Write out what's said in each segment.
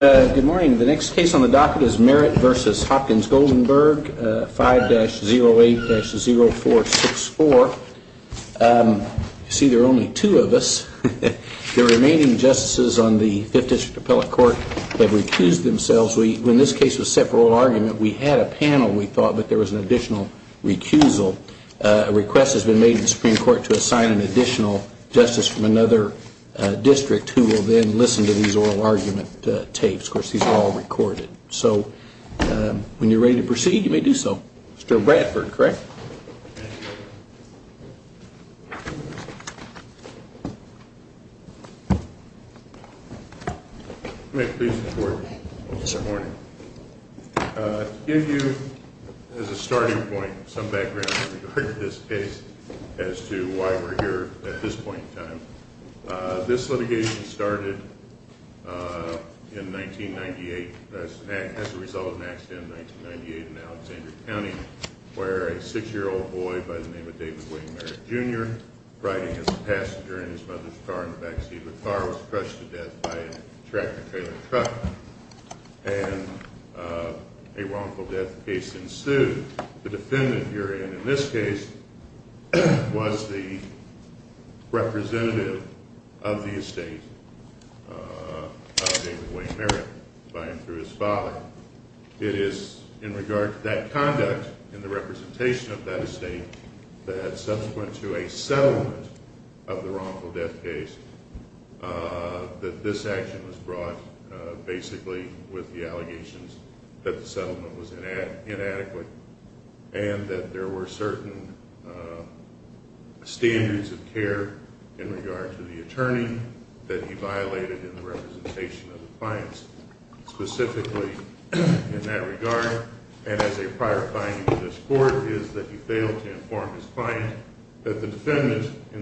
Goldenberg, 5-08-0464. You see, there are only two of us. The remaining justices on the Fifth District Appellate Court have recused themselves. In this case, it was a separate oral argument. We had a panel, we thought, but there was an additional recusal. A request has been made to the Supreme Court to assign an additional justice from another district who will then listen to these oral argument takes. Of course, these are all recorded. So when you're ready to proceed, you may do so. Mr. Bradford, correct? Thank you. May it please the Court. Yes, sir. Thank you. Thank you. Thank you. I'd like to start by saying that the defendant, in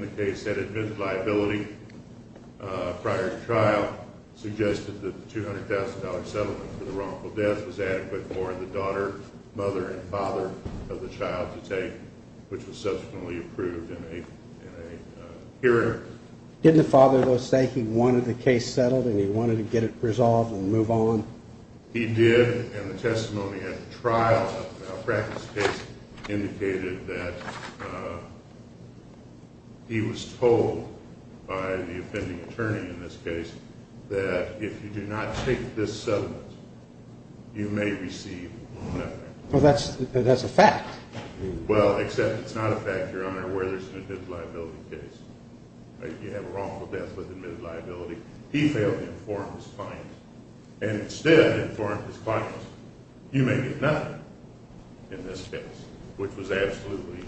the case that admits liability prior to trial, suggested that the $200,000 settlement for the wrongful death was adequate for the daughter, mother, and father of the child to take, which was subsequently approved in a hearing. Didn't the father, though, say he wanted the case settled and he wanted to get it resolved and move on? He did, and the testimony at the trial indicated that he was told by the offending attorney in this case that if you do not take this settlement, you may receive nothing. Well, that's a fact. Well, except it's not a fact, Your Honor, where there's an admitted liability case. You have a wrongful death with admitted liability. He failed to inform his client, and instead informed his client, you may get nothing in this case, which was absolutely,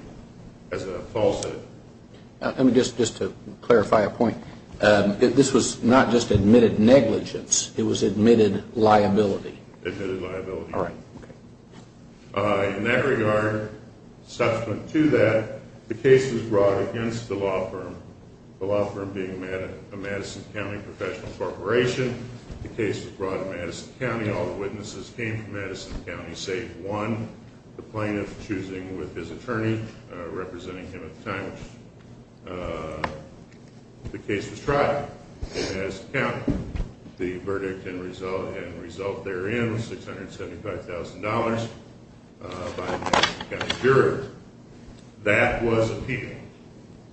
as Paul said. Let me just, just to clarify a point. This was not just admitted negligence. It was admitted liability. Admitted liability. All right. In that regard, subsequent to that, the case was brought against the law firm, the law and professional corporation. The case was brought in Madison County. All the witnesses came from Madison County, save one, the plaintiff choosing with his attorney representing him at the time the case was tried in Madison County. The verdict and result therein was $675,000 by a Madison County juror. That was appealed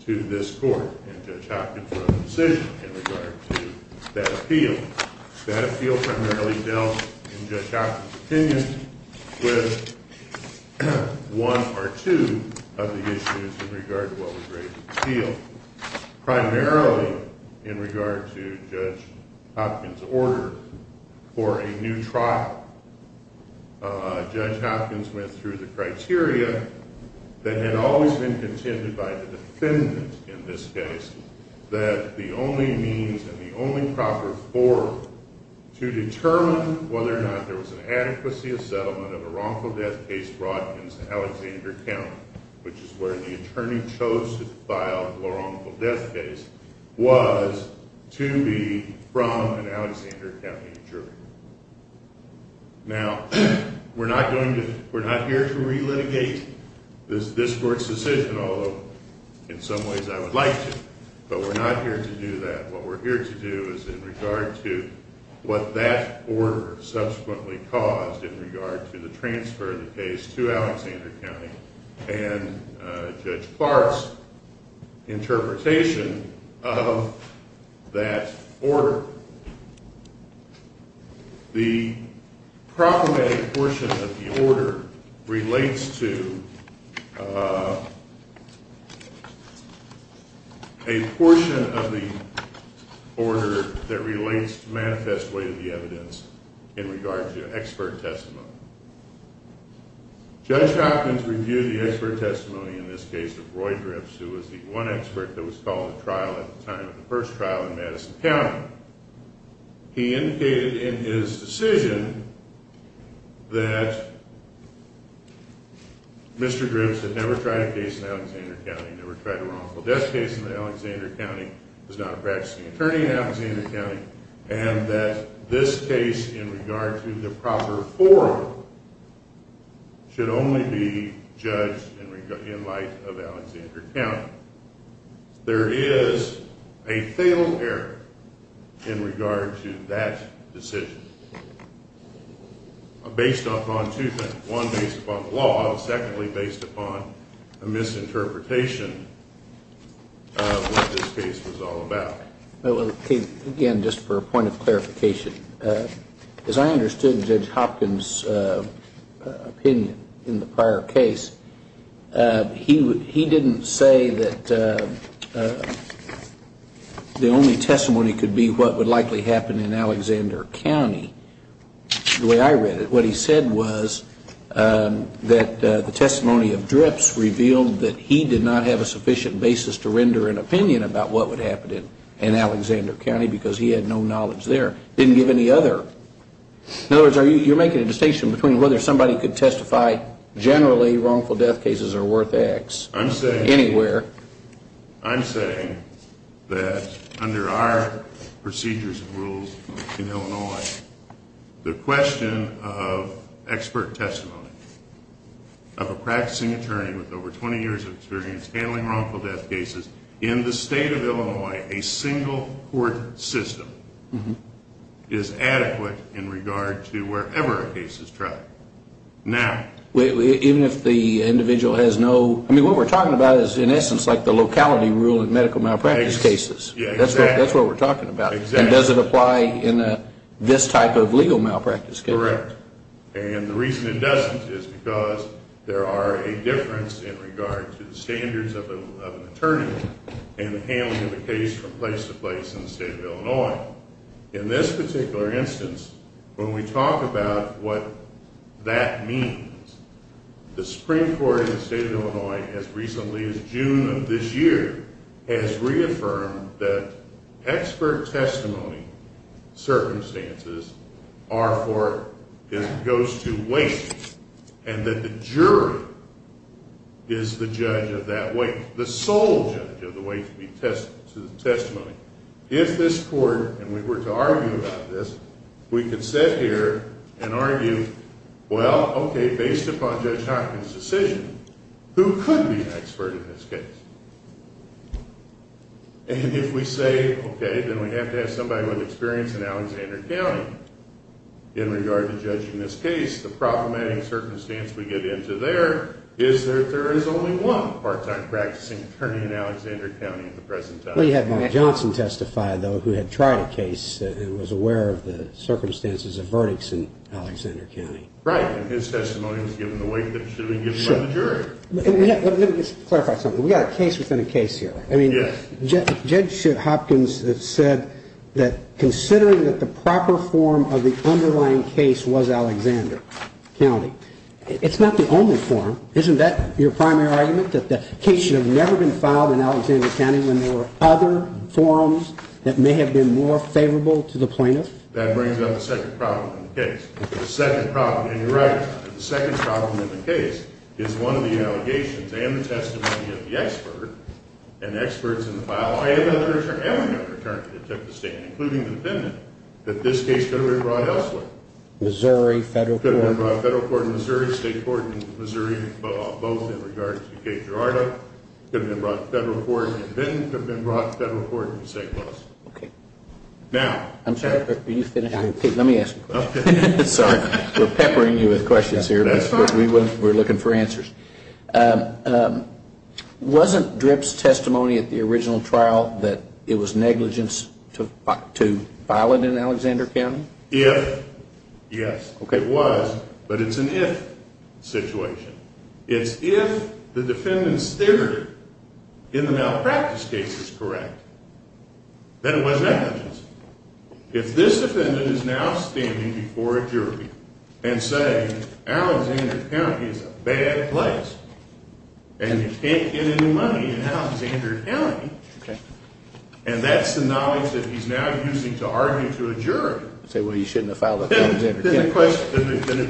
to this court, and Judge Hopkins wrote a decision in regard to that appeal. That appeal primarily dealt, in Judge Hopkins' opinion, with one or two of the issues in regard to what was raised in the appeal, primarily in regard to Judge Hopkins' order for a new trial. Judge Hopkins went through the criteria that had always been contended by the defendant in this case, that the only means and the only proper forum to determine whether or not there was an adequacy of settlement of a wrongful death case brought against Alexander County, which is where the attorney chose to file the wrongful death case, was to be from an Alexander County juror. Now, we're not here to relitigate this court's decision, although in some ways I would like to, but we're not here to do that. What we're here to do is in regard to what that order subsequently caused in regard to the transfer of the case to Alexander County, and Judge Clark's interpretation of that order, the proclamatic portion of the order relates to a portion of the order that relates to the manifest way of the evidence in regard to expert testimony. Judge Hopkins reviewed the expert testimony in this case of Roy Dripps, who was the one trial in Madison County. He indicated in his decision that Mr. Dripps had never tried a case in Alexander County, never tried a wrongful death case in Alexander County, was not a practicing attorney in Alexander County, and that this case in regard to the proper forum should only be judged in light of Alexander County. There is a fatal error in regard to that decision, based upon two things. One, based upon the law, and secondly, based upon a misinterpretation of what this case was all about. Again, just for a point of clarification, as I understood Judge Hopkins' opinion in the prior case, he didn't say that the only testimony could be what would likely happen in Alexander County, the way I read it. What he said was that the testimony of Dripps revealed that he did not have a sufficient basis to render an opinion about what would happen in Alexander County, because he had no knowledge there. He didn't give any other. In other words, you're making a distinction between whether somebody could testify generally wrongful death cases are worth X anywhere. I'm saying that under our procedures and rules in Illinois, the question of expert testimony of a practicing attorney with over 20 years of experience handling wrongful death cases in the state of Illinois, a single court system is adequate in regard to wherever a case is tried. Now... Even if the individual has no... I mean, what we're talking about is, in essence, like the locality rule in medical malpractice cases. Yeah, exactly. That's what we're talking about. And does it apply in this type of legal malpractice case? And the reason it doesn't is because there are a difference in regard to the standards of an attorney and the handling of a case from place to place in the state of Illinois. In this particular instance, when we talk about what that means, the Supreme Court in the state of Illinois, as recently as June of this year, has reaffirmed that expert testimony circumstances are for... It goes to weight, and that the jury is the judge of that weight, the sole judge of the weight to the testimony. If this court, and we were to argue about this, we could sit here and argue, well, okay, based upon Judge Hopkins' decision, who could be an expert in this case? And if we say, okay, then we have to have somebody with experience in Alexander County in regard to judging this case, the proclamating circumstance we get into there is that there is only one part-time practicing attorney in Alexander County at the present time. Well, you had Mike Johnson testify, though, who had tried a case and was aware of the circumstances of verdicts in Alexander County. Right, and his testimony was given the weight that should be given by the jury. Let me just clarify something. We've got a case within a case here. Yes. I mean, Judge Hopkins said that considering that the proper form of the underlying case was Alexander County, it's not the only form. Isn't that your primary argument, that the case should have never been filed in Alexander County when there were other forms that may have been more favorable to the plaintiff? That brings up a second problem in the case. The second problem, and you're right, the second problem in the case is one of the allegations and the testimony of the expert and experts in the file, and another attorney that took the stand, including the defendant, that this case could have been brought elsewhere. Missouri, federal court. It could have been brought to federal court in Missouri, state court in Missouri, both in regard to the case of Gerardo. It could have been brought to federal court in Vinton. It could have been brought to federal court in St. Louis. Okay. Now. I'm sorry. Let me ask a question. Okay. Sorry. We're peppering you with questions here. That's fine. We're looking for answers. Wasn't Drip's testimony at the original trial that it was negligence to file it in Alexander County? If, yes. Okay. It was, but it's an if situation. It's if the defendant's theory in the malpractice case is correct, then it was negligence. If this defendant is now standing before a jury and saying Alexander County is a bad place, and you can't get any money in Alexander County, and that's the knowledge that he's now using to argue to a jury. Say, well, you shouldn't have filed it in Alexander County. Then it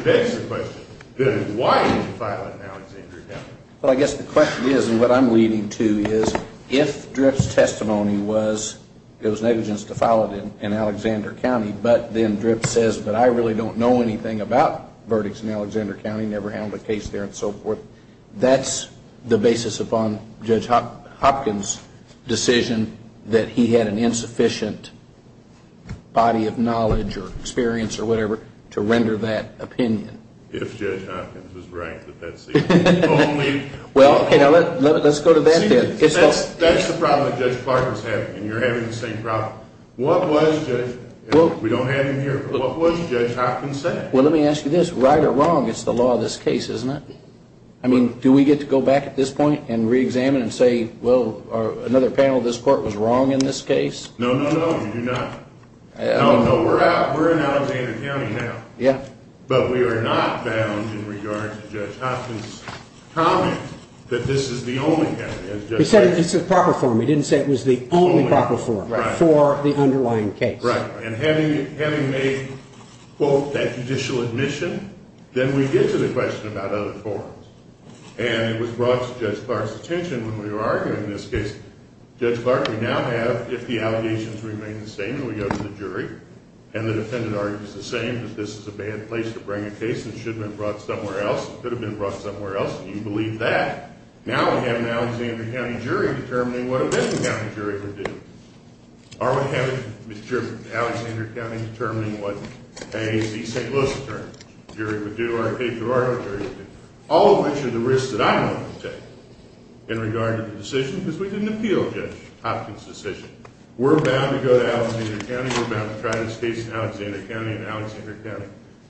begs the question, then why did you file it in Alexander County? Well, I guess the question is, and what I'm leading to, is if Drip's testimony was it was negligence to file it in Alexander County, but then Drip says, but I really don't know anything about verdicts in Alexander County, never handled a case there, and so forth, that's the basis upon Judge Hopkins' decision that he had an insufficient body of knowledge or experience or whatever to render that opinion. If Judge Hopkins was ranked at that seat. Well, okay, let's go to that then. That's the problem that Judge Clark was having, and you're having the same problem. What was Judge, we don't have him here, but what was Judge Hopkins say? Well, let me ask you this. Right or wrong, it's the law of this case, isn't it? I mean, do we get to go back at this point and reexamine and say, well, another panel of this court was wrong in this case? No, no, no, you do not. No, we're in Alexander County now, but we are not bound in regard to Judge Hopkins' comment that this is the only county, as Judge said. He said it's the proper form. He didn't say it was the only proper form for the underlying case. Right, and having made, quote, that judicial admission, then we get to the question about other forms, and it was brought to Judge Clark's attention when we were arguing this case. Judge Clark, we now have, if the allegations remain the same, we go to the jury, and the defendant argues the same, that this is a bad place to bring a case and it should have been brought somewhere else, it could have been brought somewhere else, and you believe that, now we have an Alexander County jury determining what a Benton County jury would do. Are we having, Mr. Chairman, Alexander County determining what a St. Louis attorney jury would do, or a Patriarchal jury would do, all of which are the risks that I'm willing to take in regard to the decision, because we didn't appeal Judge Hopkins' decision. We're bound to go to Alexander County, we're bound to try this case in Alexander County and Alexander County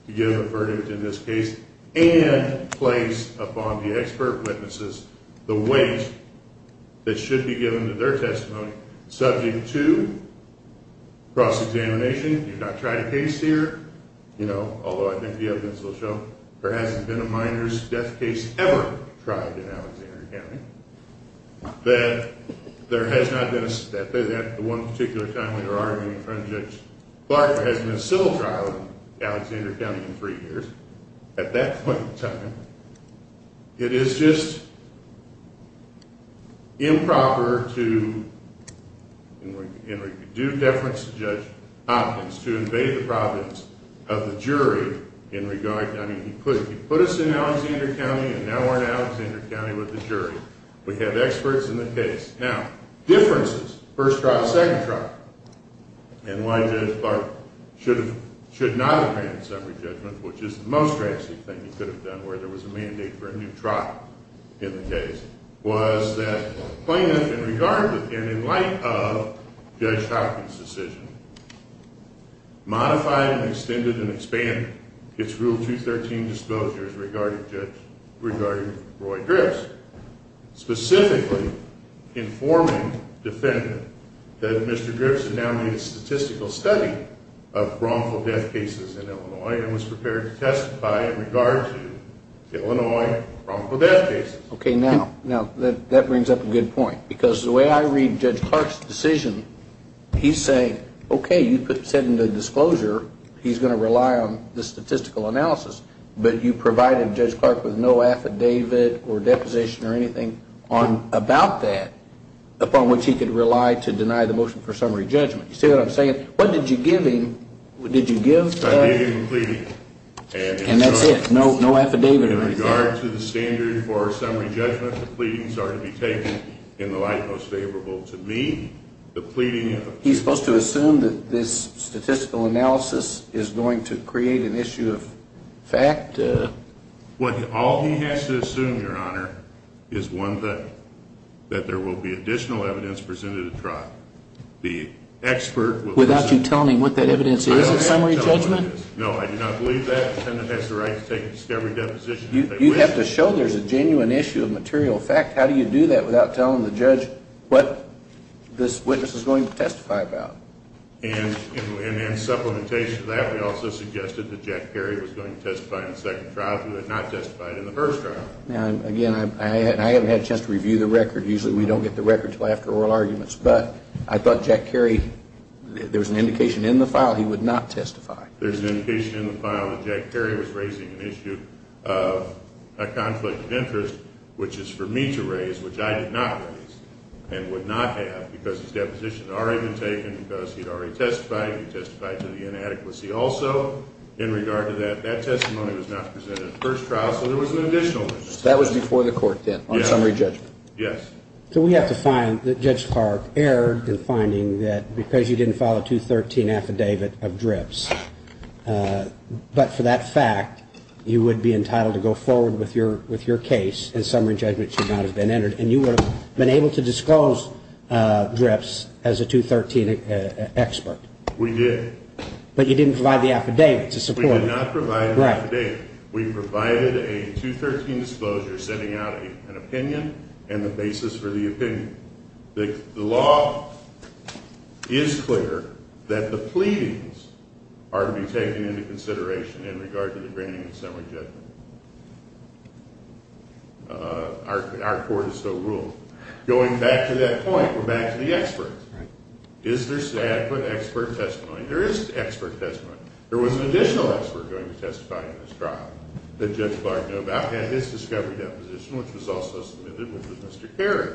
to give a verdict in this case and place upon the expert witnesses the weight that should be given to their testimony subject to cross-examination. You've not tried a case here, you know, although I think the evidence will show there hasn't been a minor's death case ever tried in Alexander County, that there has not been a step, that at the one particular time when you're arguing in front of Judge Clark, there hasn't been a civil trial in Alexander County in three years, at that point in time, it is just improper to, in due deference to Judge Hopkins, to invade the province of the jury in regard to Judge Clark. I mean, he put us in Alexander County and now we're in Alexander County with the jury. We have experts in the case. Now, differences, first trial, second trial, and why Judge Clark should not have granted summary judgment, which is the most drastic thing he could have done, where there was a mandate for a new trial in the case, was that plaintiff, in regard to and in light of Judge Hopkins' decision, modified and extended and expanded its Rule 213 disclosures regarding Roy Drips, specifically informing the defendant that Mr. Drips had now made a statistical study of wrongful death cases in Illinois and was prepared to testify in regard to Illinois wrongful death cases. Okay, now, that brings up a good point, because the way I read Judge Clark's decision, he's saying, okay, you said in the disclosure he's going to rely on the statistical analysis, but you provided Judge Clark with no affidavit or deposition or anything about that, upon which he could rely to deny the motion for summary judgment. You see what I'm saying? What did you give him? Did you give... I gave him a pleading. And that's it? No affidavit or anything? In regard to the standard for summary judgment, the pleadings are to be taken in the light He's supposed to assume that this statistical analysis is going to create an issue of fact? All he has to assume, Your Honor, is one thing, that there will be additional evidence presented at trial. The expert... Without you telling him what that evidence is at summary judgment? No, I do not believe that. The defendant has the right to take a discovery deposition if they wish. You have to show there's a genuine issue of material fact. How do you do that without telling the judge what this witness is going to testify about? And in supplementation to that, we also suggested that Jack Kerry was going to testify in the second trial if he had not testified in the first trial. Now, again, I haven't had a chance to review the record. Usually we don't get the record until after oral arguments, but I thought Jack Kerry, there was an indication in the file he would not testify. There's an indication in the file that Jack Kerry was raising an issue of a conflict of interest, which is for me to raise, which I did not raise and would not have because his deposition had already been taken because he had already testified. He testified to the inadequacy also. In regard to that, that testimony was not presented in the first trial, so there was an additional witness. That was before the court then, on summary judgment? Yes. So we have to find that Judge Park erred in finding that because you didn't file a 213 affidavit of drips, but for that fact, you would be entitled to go forward with your case, and summary judgment should not have been entered, and you would have been able to disclose drips as a 213 expert. We did. But you didn't provide the affidavit to support it. We did not provide an affidavit. Right. We provided a 213 disclosure sending out an opinion and the basis for the opinion. The law is clear that the pleadings are to be taken into consideration in regard to the granting of summary judgment. Our court is still ruled. Going back to that point, we're back to the experts. Is there adequate expert testimony? There is expert testimony. There was an additional expert going to testify in this trial that Judge Clark knew about, and Judge Clark had his discovery deposition, which was also submitted, which was Mr. Kerry.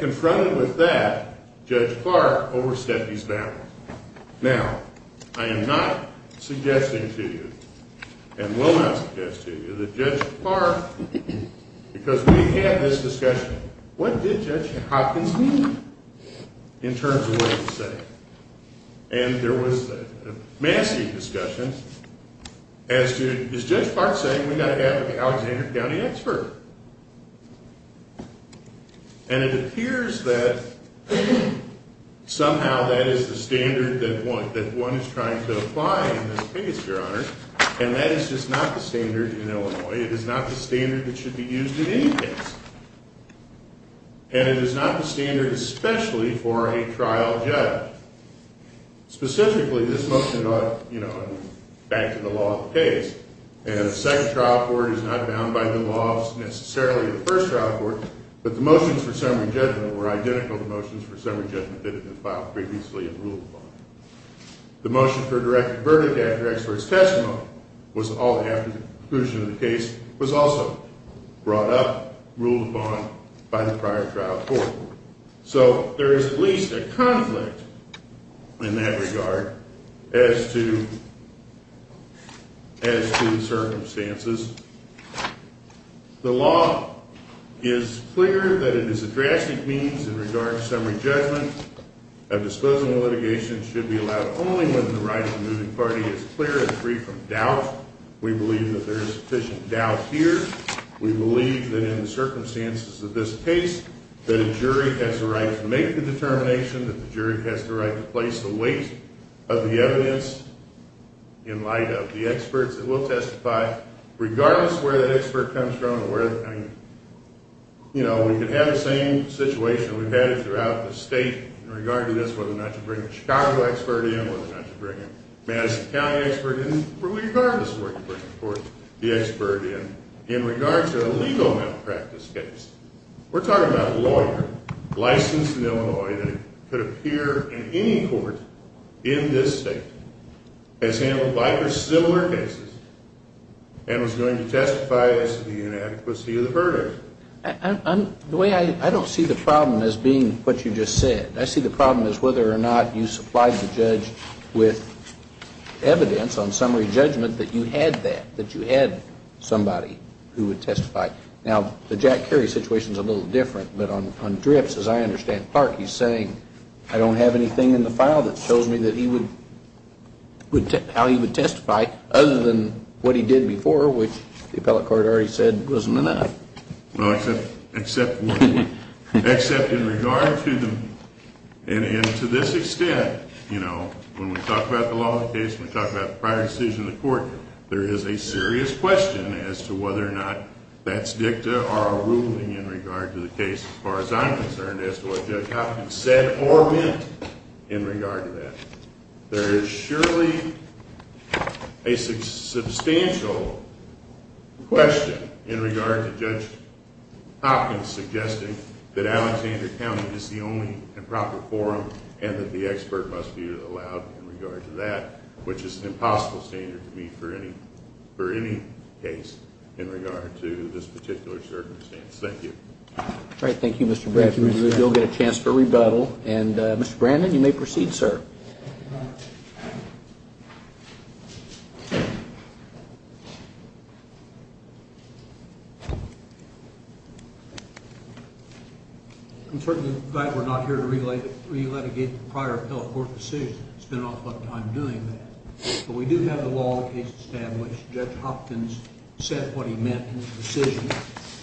Confronted with that, Judge Clark overstepped his bounds. Now, I am not suggesting to you and will not suggest to you that Judge Clark, because we had this discussion, what did Judge Hopkins mean in terms of what he said? And there was a massive discussion as to, is Judge Clark saying we've got to have an Alexander County expert? And it appears that somehow that is the standard that one is trying to apply in this case, Your Honor. And that is just not the standard in Illinois. It is not the standard that should be used in any case. And it is not the standard, especially for a trial judge. Specifically, this motion brought, you know, back to the law of the case, and the second trial court is not bound by the laws necessarily of the first trial court, but the motions for summary judgment were identical to the motions for summary judgment that had been filed previously and ruled upon. The motion for a direct verdict after expert's testimony, was all after the conclusion of the case, was also brought up, ruled upon by the prior trial court. So, there is at least a conflict in that regard as to circumstances. The law is clear that it is a drastic means in regard to summary judgment. A disposal of litigation should be allowed only when the right of the moving party is clear and free from doubt. We believe that there is sufficient doubt here. We believe that in the circumstances of this case, that a jury has the right to make the determination, that the jury has the right to place the weight of the evidence in light of the experts that will testify, regardless of where that expert comes from or where, I mean, you know, we could have the same situation we've had throughout the state in regard to this, whether or not to bring a Chicago expert in, whether or not to bring a Madison County expert in, regardless of where you bring the expert in. In regard to a legal malpractice case, we're talking about a lawyer licensed in Illinois that could appear in any court in this state, has handled likely similar cases, and was going to testify as to the inadequacy of the verdict. The way I don't see the problem as being what you just said. I see the problem as whether or not you supplied the judge with evidence on summary judgment that you had that, that you had somebody who would testify. Now, the Jack Kerry situation is a little different, but on DRIPS, as I understand, Clark, he's saying, I don't have anything in the file that shows me that he would, how he would testify other than what he did before, which the appellate court already said wasn't enough. Well, except in regard to the, and to this extent, you know, when we talk about the law of the case, when we talk about the prior decision of the court, there is a serious question as to whether or not that's dicta or a ruling in regard to the case, as far as I'm concerned, as to what Judge Hopkins said or meant in regard to that. There is surely a substantial question in regard to Judge Hopkins suggesting that Alexander County is the only and proper forum and that the expert must be allowed in regard to that, which is an impossible standard to meet for any case in regard to this particular circumstance. Thank you. All right. Thank you, Mr. Brannon. You'll get a chance for rebuttal. And, Mr. Brannon, you may proceed, sir. I'm certainly glad we're not here to re-litigate the prior appellate court decision. I spent an awful lot of time doing that. But we do have the law of the case established. Judge Hopkins said what he meant in his decision,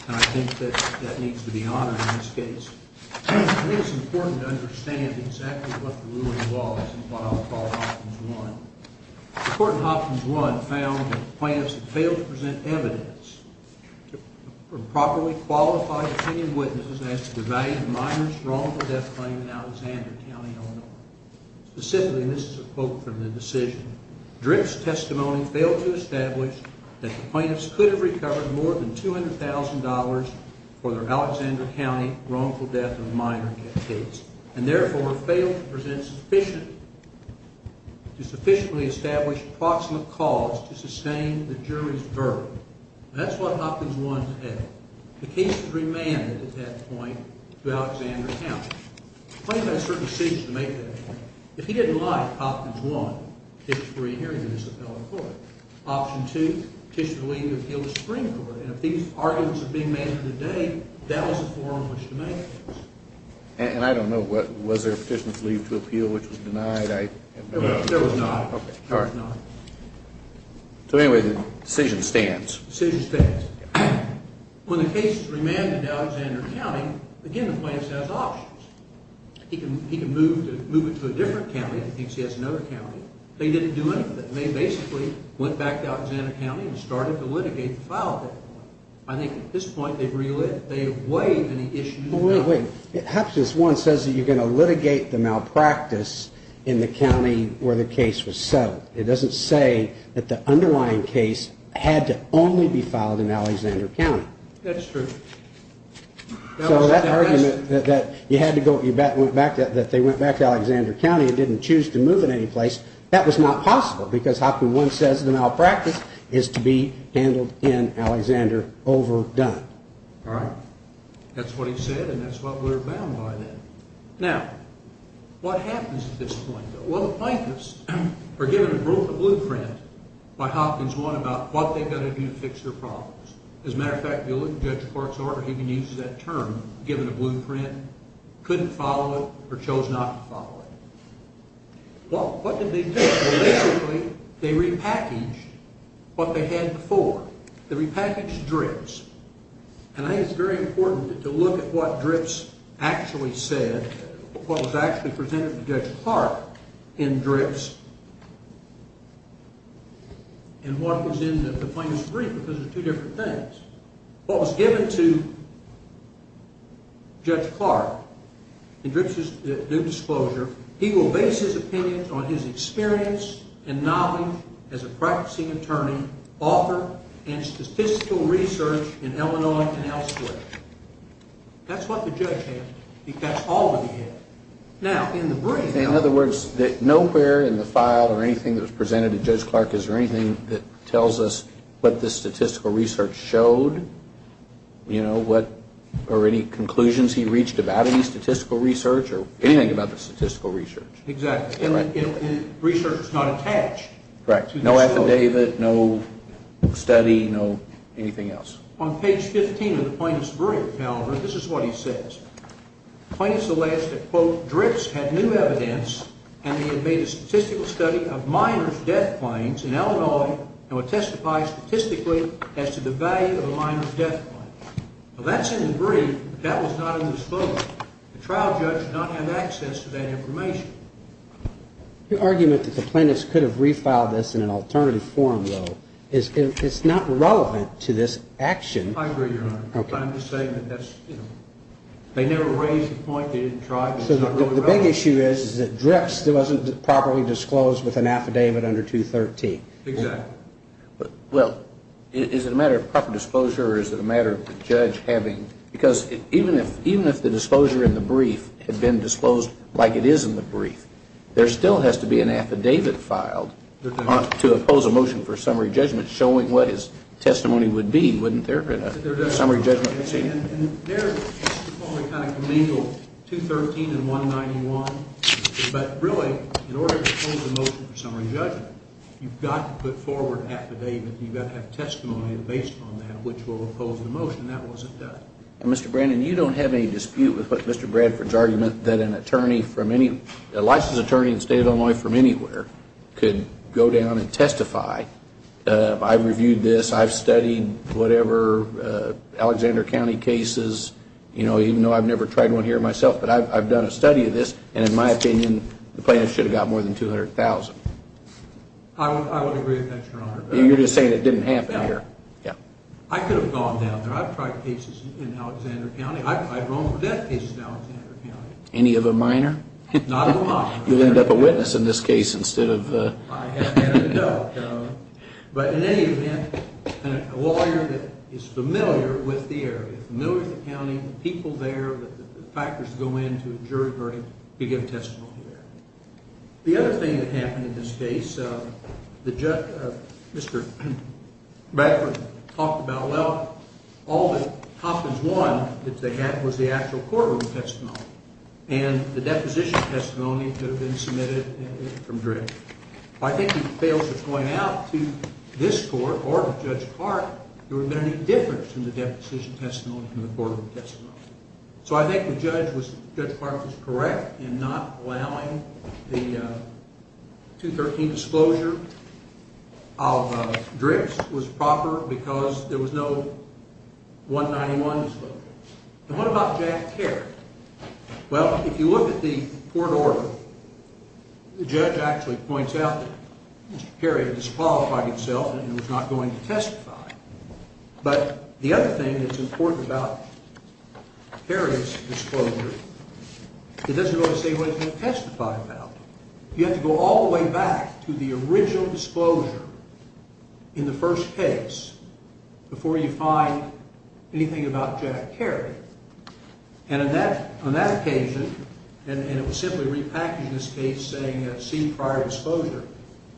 and I think that that needs to be honored in this case. I think it's important to understand exactly what the ruling was and what I'll call Hopkins 1. The court in Hopkins 1 found that the plaintiffs had failed to present evidence from properly qualified opinion witnesses as to the value of the minor's wrongful death claim in Alexander County, Illinois. Specifically, and this is a quote from the decision, Drift's testimony failed to establish that the plaintiffs could have recovered more than $200,000 for their Alexander County wrongful death of a minor case, and therefore failed to present sufficient to sufficiently establish approximate cause to sustain the jury's verdict. That's what Hopkins 1 said. The case was remanded at that point to Alexander County. The plaintiffs had certain decisions to make at that point. If he didn't lie, Hopkins 1, it's re-hearing the disappelling court. Option 2, petition to leave to appeal the Supreme Court. And if these arguments are being made today, that was the forum in which to make those. And I don't know, was there a petition to leave to appeal which was denied? There was not. So anyway, the decision stands. The decision stands. When the case is remanded to Alexander County, again, the plaintiffs have options. He can move it to a different county if he thinks he has another county. They didn't do anything. They basically went back to Alexander County and started to litigate the file at that point. I think at this point they've relived. They have waived any issues. Wait, wait. Hopkins 1 says that you're going to litigate the malpractice in the county where the case was settled. It doesn't say that the underlying case had to only be filed in Alexander County. That's true. So that argument that you had to go, that they went back to Alexander County and didn't choose to move it any place, that was not possible because Hopkins 1 says the malpractice is to be handled in Alexander over done. Right. That's what he said and that's what we're bound by then. Now, what happens at this point? Well, the plaintiffs are given a blueprint by Hopkins 1 about what they've got to do to fix their problems. As a matter of fact, if you look at Judge Clark's order, he even uses that term, given a blueprint, couldn't follow it or chose not to follow it. Well, what did they do? Basically, they repackaged what they had before. They repackaged DRIPS. And I think it's very important to look at what DRIPS actually said, what was actually presented to Judge Clark in DRIPS, and what was in the plaintiff's brief because they're two different things. What was given to Judge Clark in DRIPS' new disclosure, he will base his opinion on his experience and knowledge as a practicing attorney, author, and statistical research in Illinois and elsewhere. That's what the judge had because that's all that he had. Now, in the brief... In other words, nowhere in the file or anything that was presented to Judge Clark is there anything that tells us what the statistical research showed, you know, what or any conclusions he reached about any statistical research or anything about the statistical research. Exactly. Right. Research is not attached. Right. No affidavit, no study, no anything else. On page 15 of the plaintiff's brief, however, this is what he says. The plaintiff's alleged that, quote, DRIPS had new evidence and they had made a statistical study of minor death claims in Illinois and would testify statistically as to the value of a minor death claim. Now, that's in the brief, but that was not in the disclosure. The trial judge did not have access to that information. Your argument that the plaintiffs could have refiled this in an alternative form, though, it's not relevant to this action. I agree, Your Honor. I'm just saying that that's, you know, they never raised the point. They didn't try. It's not really relevant. So the big issue is that DRIPS wasn't properly disclosed with an affidavit under 213. Exactly. Well, is it a matter of proper disclosure or is it a matter of the judge having... Because even if the disclosure in the brief had been disclosed like it is in the brief, there still has to be an affidavit filed to oppose a motion for summary judgment showing what his testimony would be, wouldn't there? There does. Summary judgment. And there it's only kind of commingled 213 and 191. But really, in order to oppose a motion for summary judgment, you've got to put forward an affidavit and you've got to have testimony based on that which will oppose the motion. That wasn't done. And, Mr. Brandon, you don't have any dispute with what Mr. Bradford's argument that a licensed attorney in the state of Illinois from anywhere could go down and testify. I've reviewed this. I've studied whatever Alexander County cases, you know, even though I've never tried one here myself, but I've done a study of this. And in my opinion, the plaintiff should have got more than $200,000. I would agree with that, Your Honor. You're just saying it didn't happen here. I could have gone down there. I've tried cases in Alexander County. I've run over death cases in Alexander County. Any of a minor? Not of a minor. You'll end up a witness in this case instead of a... I haven't had a doubt, Your Honor. But in any event, a lawyer that is familiar with the area, familiar with the county, the people there, the factors that go into a jury verdict, could get a testimony there. The other thing that happened in this case, Mr. Bradford talked about, well, all that Hopkins won that they had was the actual courtroom testimony, and the deposition testimony could have been submitted from Dricks. If I think he fails to point out to this court or to Judge Clark, there would have been any difference in the deposition testimony from the courtroom testimony. So I think Judge Clark was correct in not allowing the 213 disclosure of Dricks. Dricks was proper because there was no 191 disclosure. And what about Jack Kerry? Well, if you look at the court order, the judge actually points out that Mr. Kerry disqualified himself and was not going to testify. But the other thing that's important about Kerry's disclosure, it doesn't really say what he's going to testify about. You have to go all the way back to the original disclosure in the first case before you find anything about Jack Kerry. And on that occasion, and it was simply repackaged in this case saying, see prior disclosure,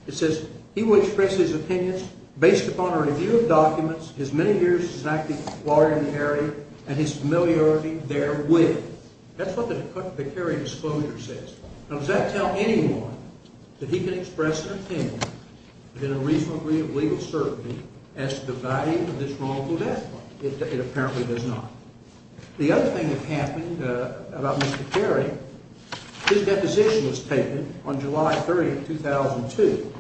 it says, he will express his opinions based upon a review of documents, his many years as an active lawyer in the area, and his familiarity therewith. That's what the Kerry disclosure says. Now, does that tell anyone that he can express an opinion within a reasonable degree of legal certainty as to the value of this wrongful death? It apparently does not. The other thing that happened about Mr. Kerry, his deposition was taken on July 30, 2002.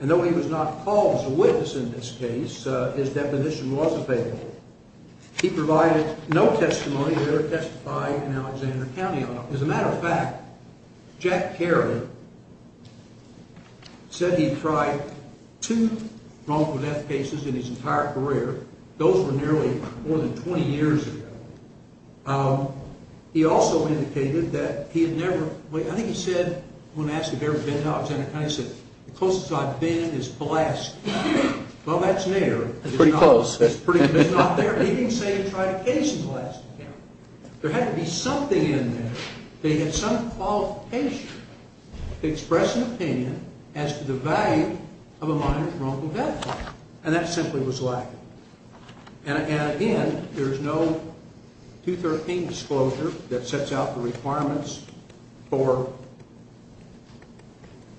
And though he was not called as a witness in this case, his deposition was available. He provided no testimony to ever testify in Alexander County. As a matter of fact, Jack Kerry said he tried two wrongful death cases in his entire career. Those were nearly more than 20 years ago. He also indicated that he had never, I think he said, when asked if he had ever been to Alexander County, he said, the closest I've been is Pulaski. Well, that's near. That's pretty close. It's not there. He didn't say he tried a case in Pulaski. There had to be something in there that he had some qualification to express an opinion as to the value of a minor's wrongful death. And that simply was lacking. And again, there's no 213 disclosure that sets out the requirements for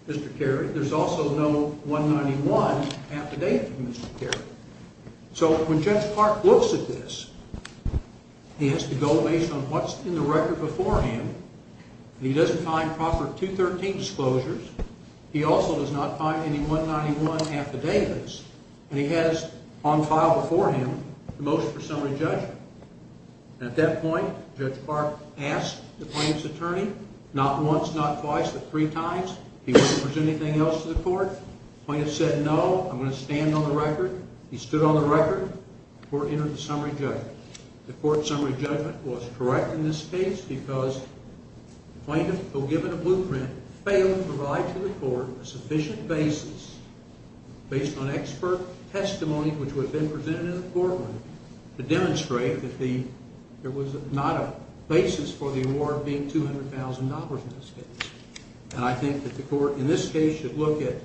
Mr. Kerry. There's also no 191 affidavit from Mr. Kerry. So when Judge Clark looks at this, he has to go based on what's in the record beforehand. He doesn't find proper 213 disclosures. He also does not find any 191 affidavits. And he has on file beforehand a motion for summary judgment. At that point, Judge Clark asked the plaintiff's attorney not once, not twice, but three times if he wanted to present anything else to the court. The plaintiff said no. I'm going to stand on the record. He stood on the record. The court entered the summary judgment. The court summary judgment was correct in this case because the plaintiff, though given a blueprint, failed to provide to the court a sufficient basis based on expert testimony, which would have been presented in the courtroom, to demonstrate that there was not a basis for the award being $200,000 in this case. And I think that the court in this case should look at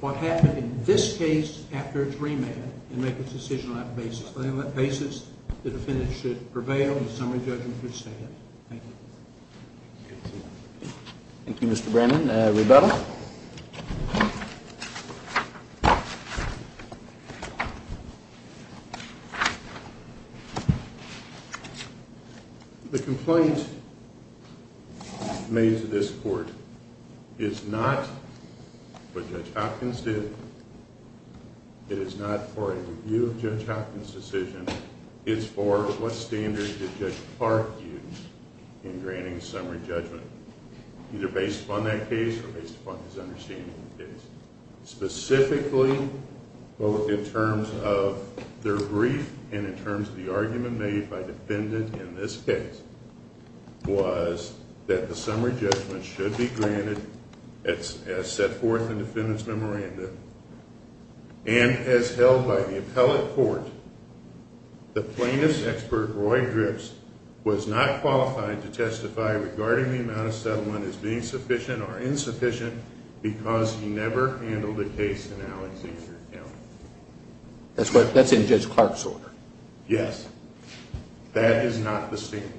what happened in this case after its remand and make its decision on that basis. But on that basis, the defendant should prevail in the summary judgment. Thank you. Thank you, Mr. Brennan. Rebecca? The complaint made to this court is not what Judge Hopkins did. It is not for a review of Judge Hopkins' decision. It's for what standards did Judge Clark use in granting summary judgment, either based upon that case or based upon his understanding of the case. Specifically, both in terms of their brief and in terms of the argument made by the defendant in this case, was that the summary judgment should be granted as set forth in the defendant's memorandum. And as held by the appellate court, the plaintiff's expert, Roy Drips, was not qualified to testify regarding the amount of settlement as being sufficient or insufficient because he never handled a case in Alexander County. That's in Judge Clark's order. Yes. That is not the standard.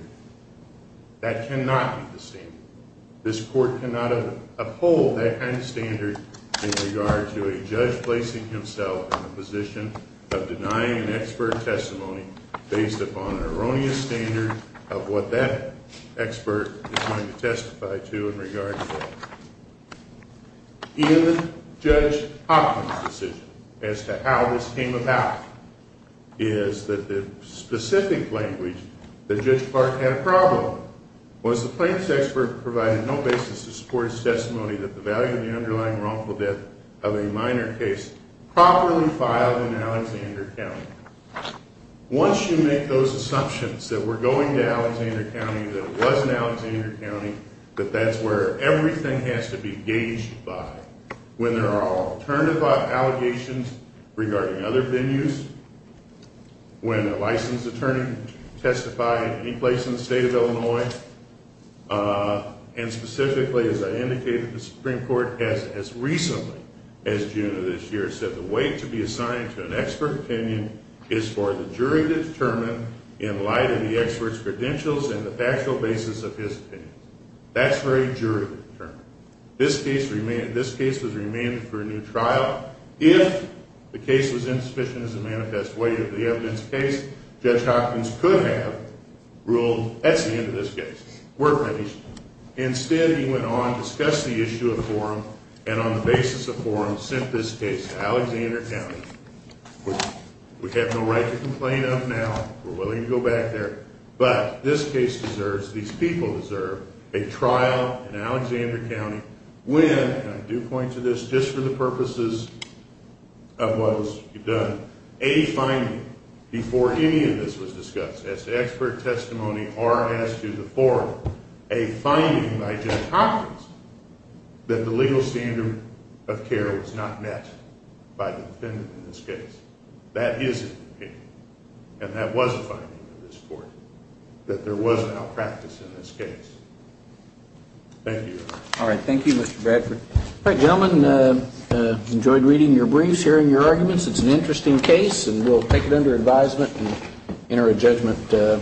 That cannot be the standard. This court cannot uphold that kind of standard in regard to a judge placing himself in the position of denying an expert testimony based upon an erroneous standard of what that expert is going to testify to in regard to that. In Judge Hopkins' decision as to how this came about, is that the specific language that Judge Clark had a problem with was the plaintiff's expert provided no basis to support his testimony that the value of the underlying wrongful death of a minor case properly filed in Alexander County. Once you make those assumptions that we're going to Alexander County, that it was in Alexander County, that that's where everything has to be gauged by, when there are alternative allegations regarding other venues, when a licensed attorney testified in any place in the state of Illinois, and specifically, as I indicated, the Supreme Court has, as recently as June of this year, said the weight to be assigned to an expert opinion is for the jury to determine in light of the expert's credentials and the factual basis of his opinion. That's for a jury to determine. This case was remanded for a new trial. If the case was insufficient as a manifest way of the evidence case, Judge Hopkins could have ruled, that's the end of this case. We're finished. Instead, he went on, discussed the issue of forum, and on the basis of forum, sent this case to Alexander County, which we have no right to complain of now. We're willing to go back there. But this case deserves, these people deserve, a trial in Alexander County, when, and I do point to this just for the purposes of what you've done, a finding before any of this was discussed as to expert testimony or as to the forum, a finding by Judge Hopkins that the legal standard of care was not met by the defendant in this case. That is an opinion. And that was a finding in this court, that there was an outpractice in this case. Thank you. All right. Thank you, Mr. Bradford. All right, gentlemen, enjoyed reading your briefs, hearing your arguments. It's an interesting case, and we'll take it under advisement and enter a judgment.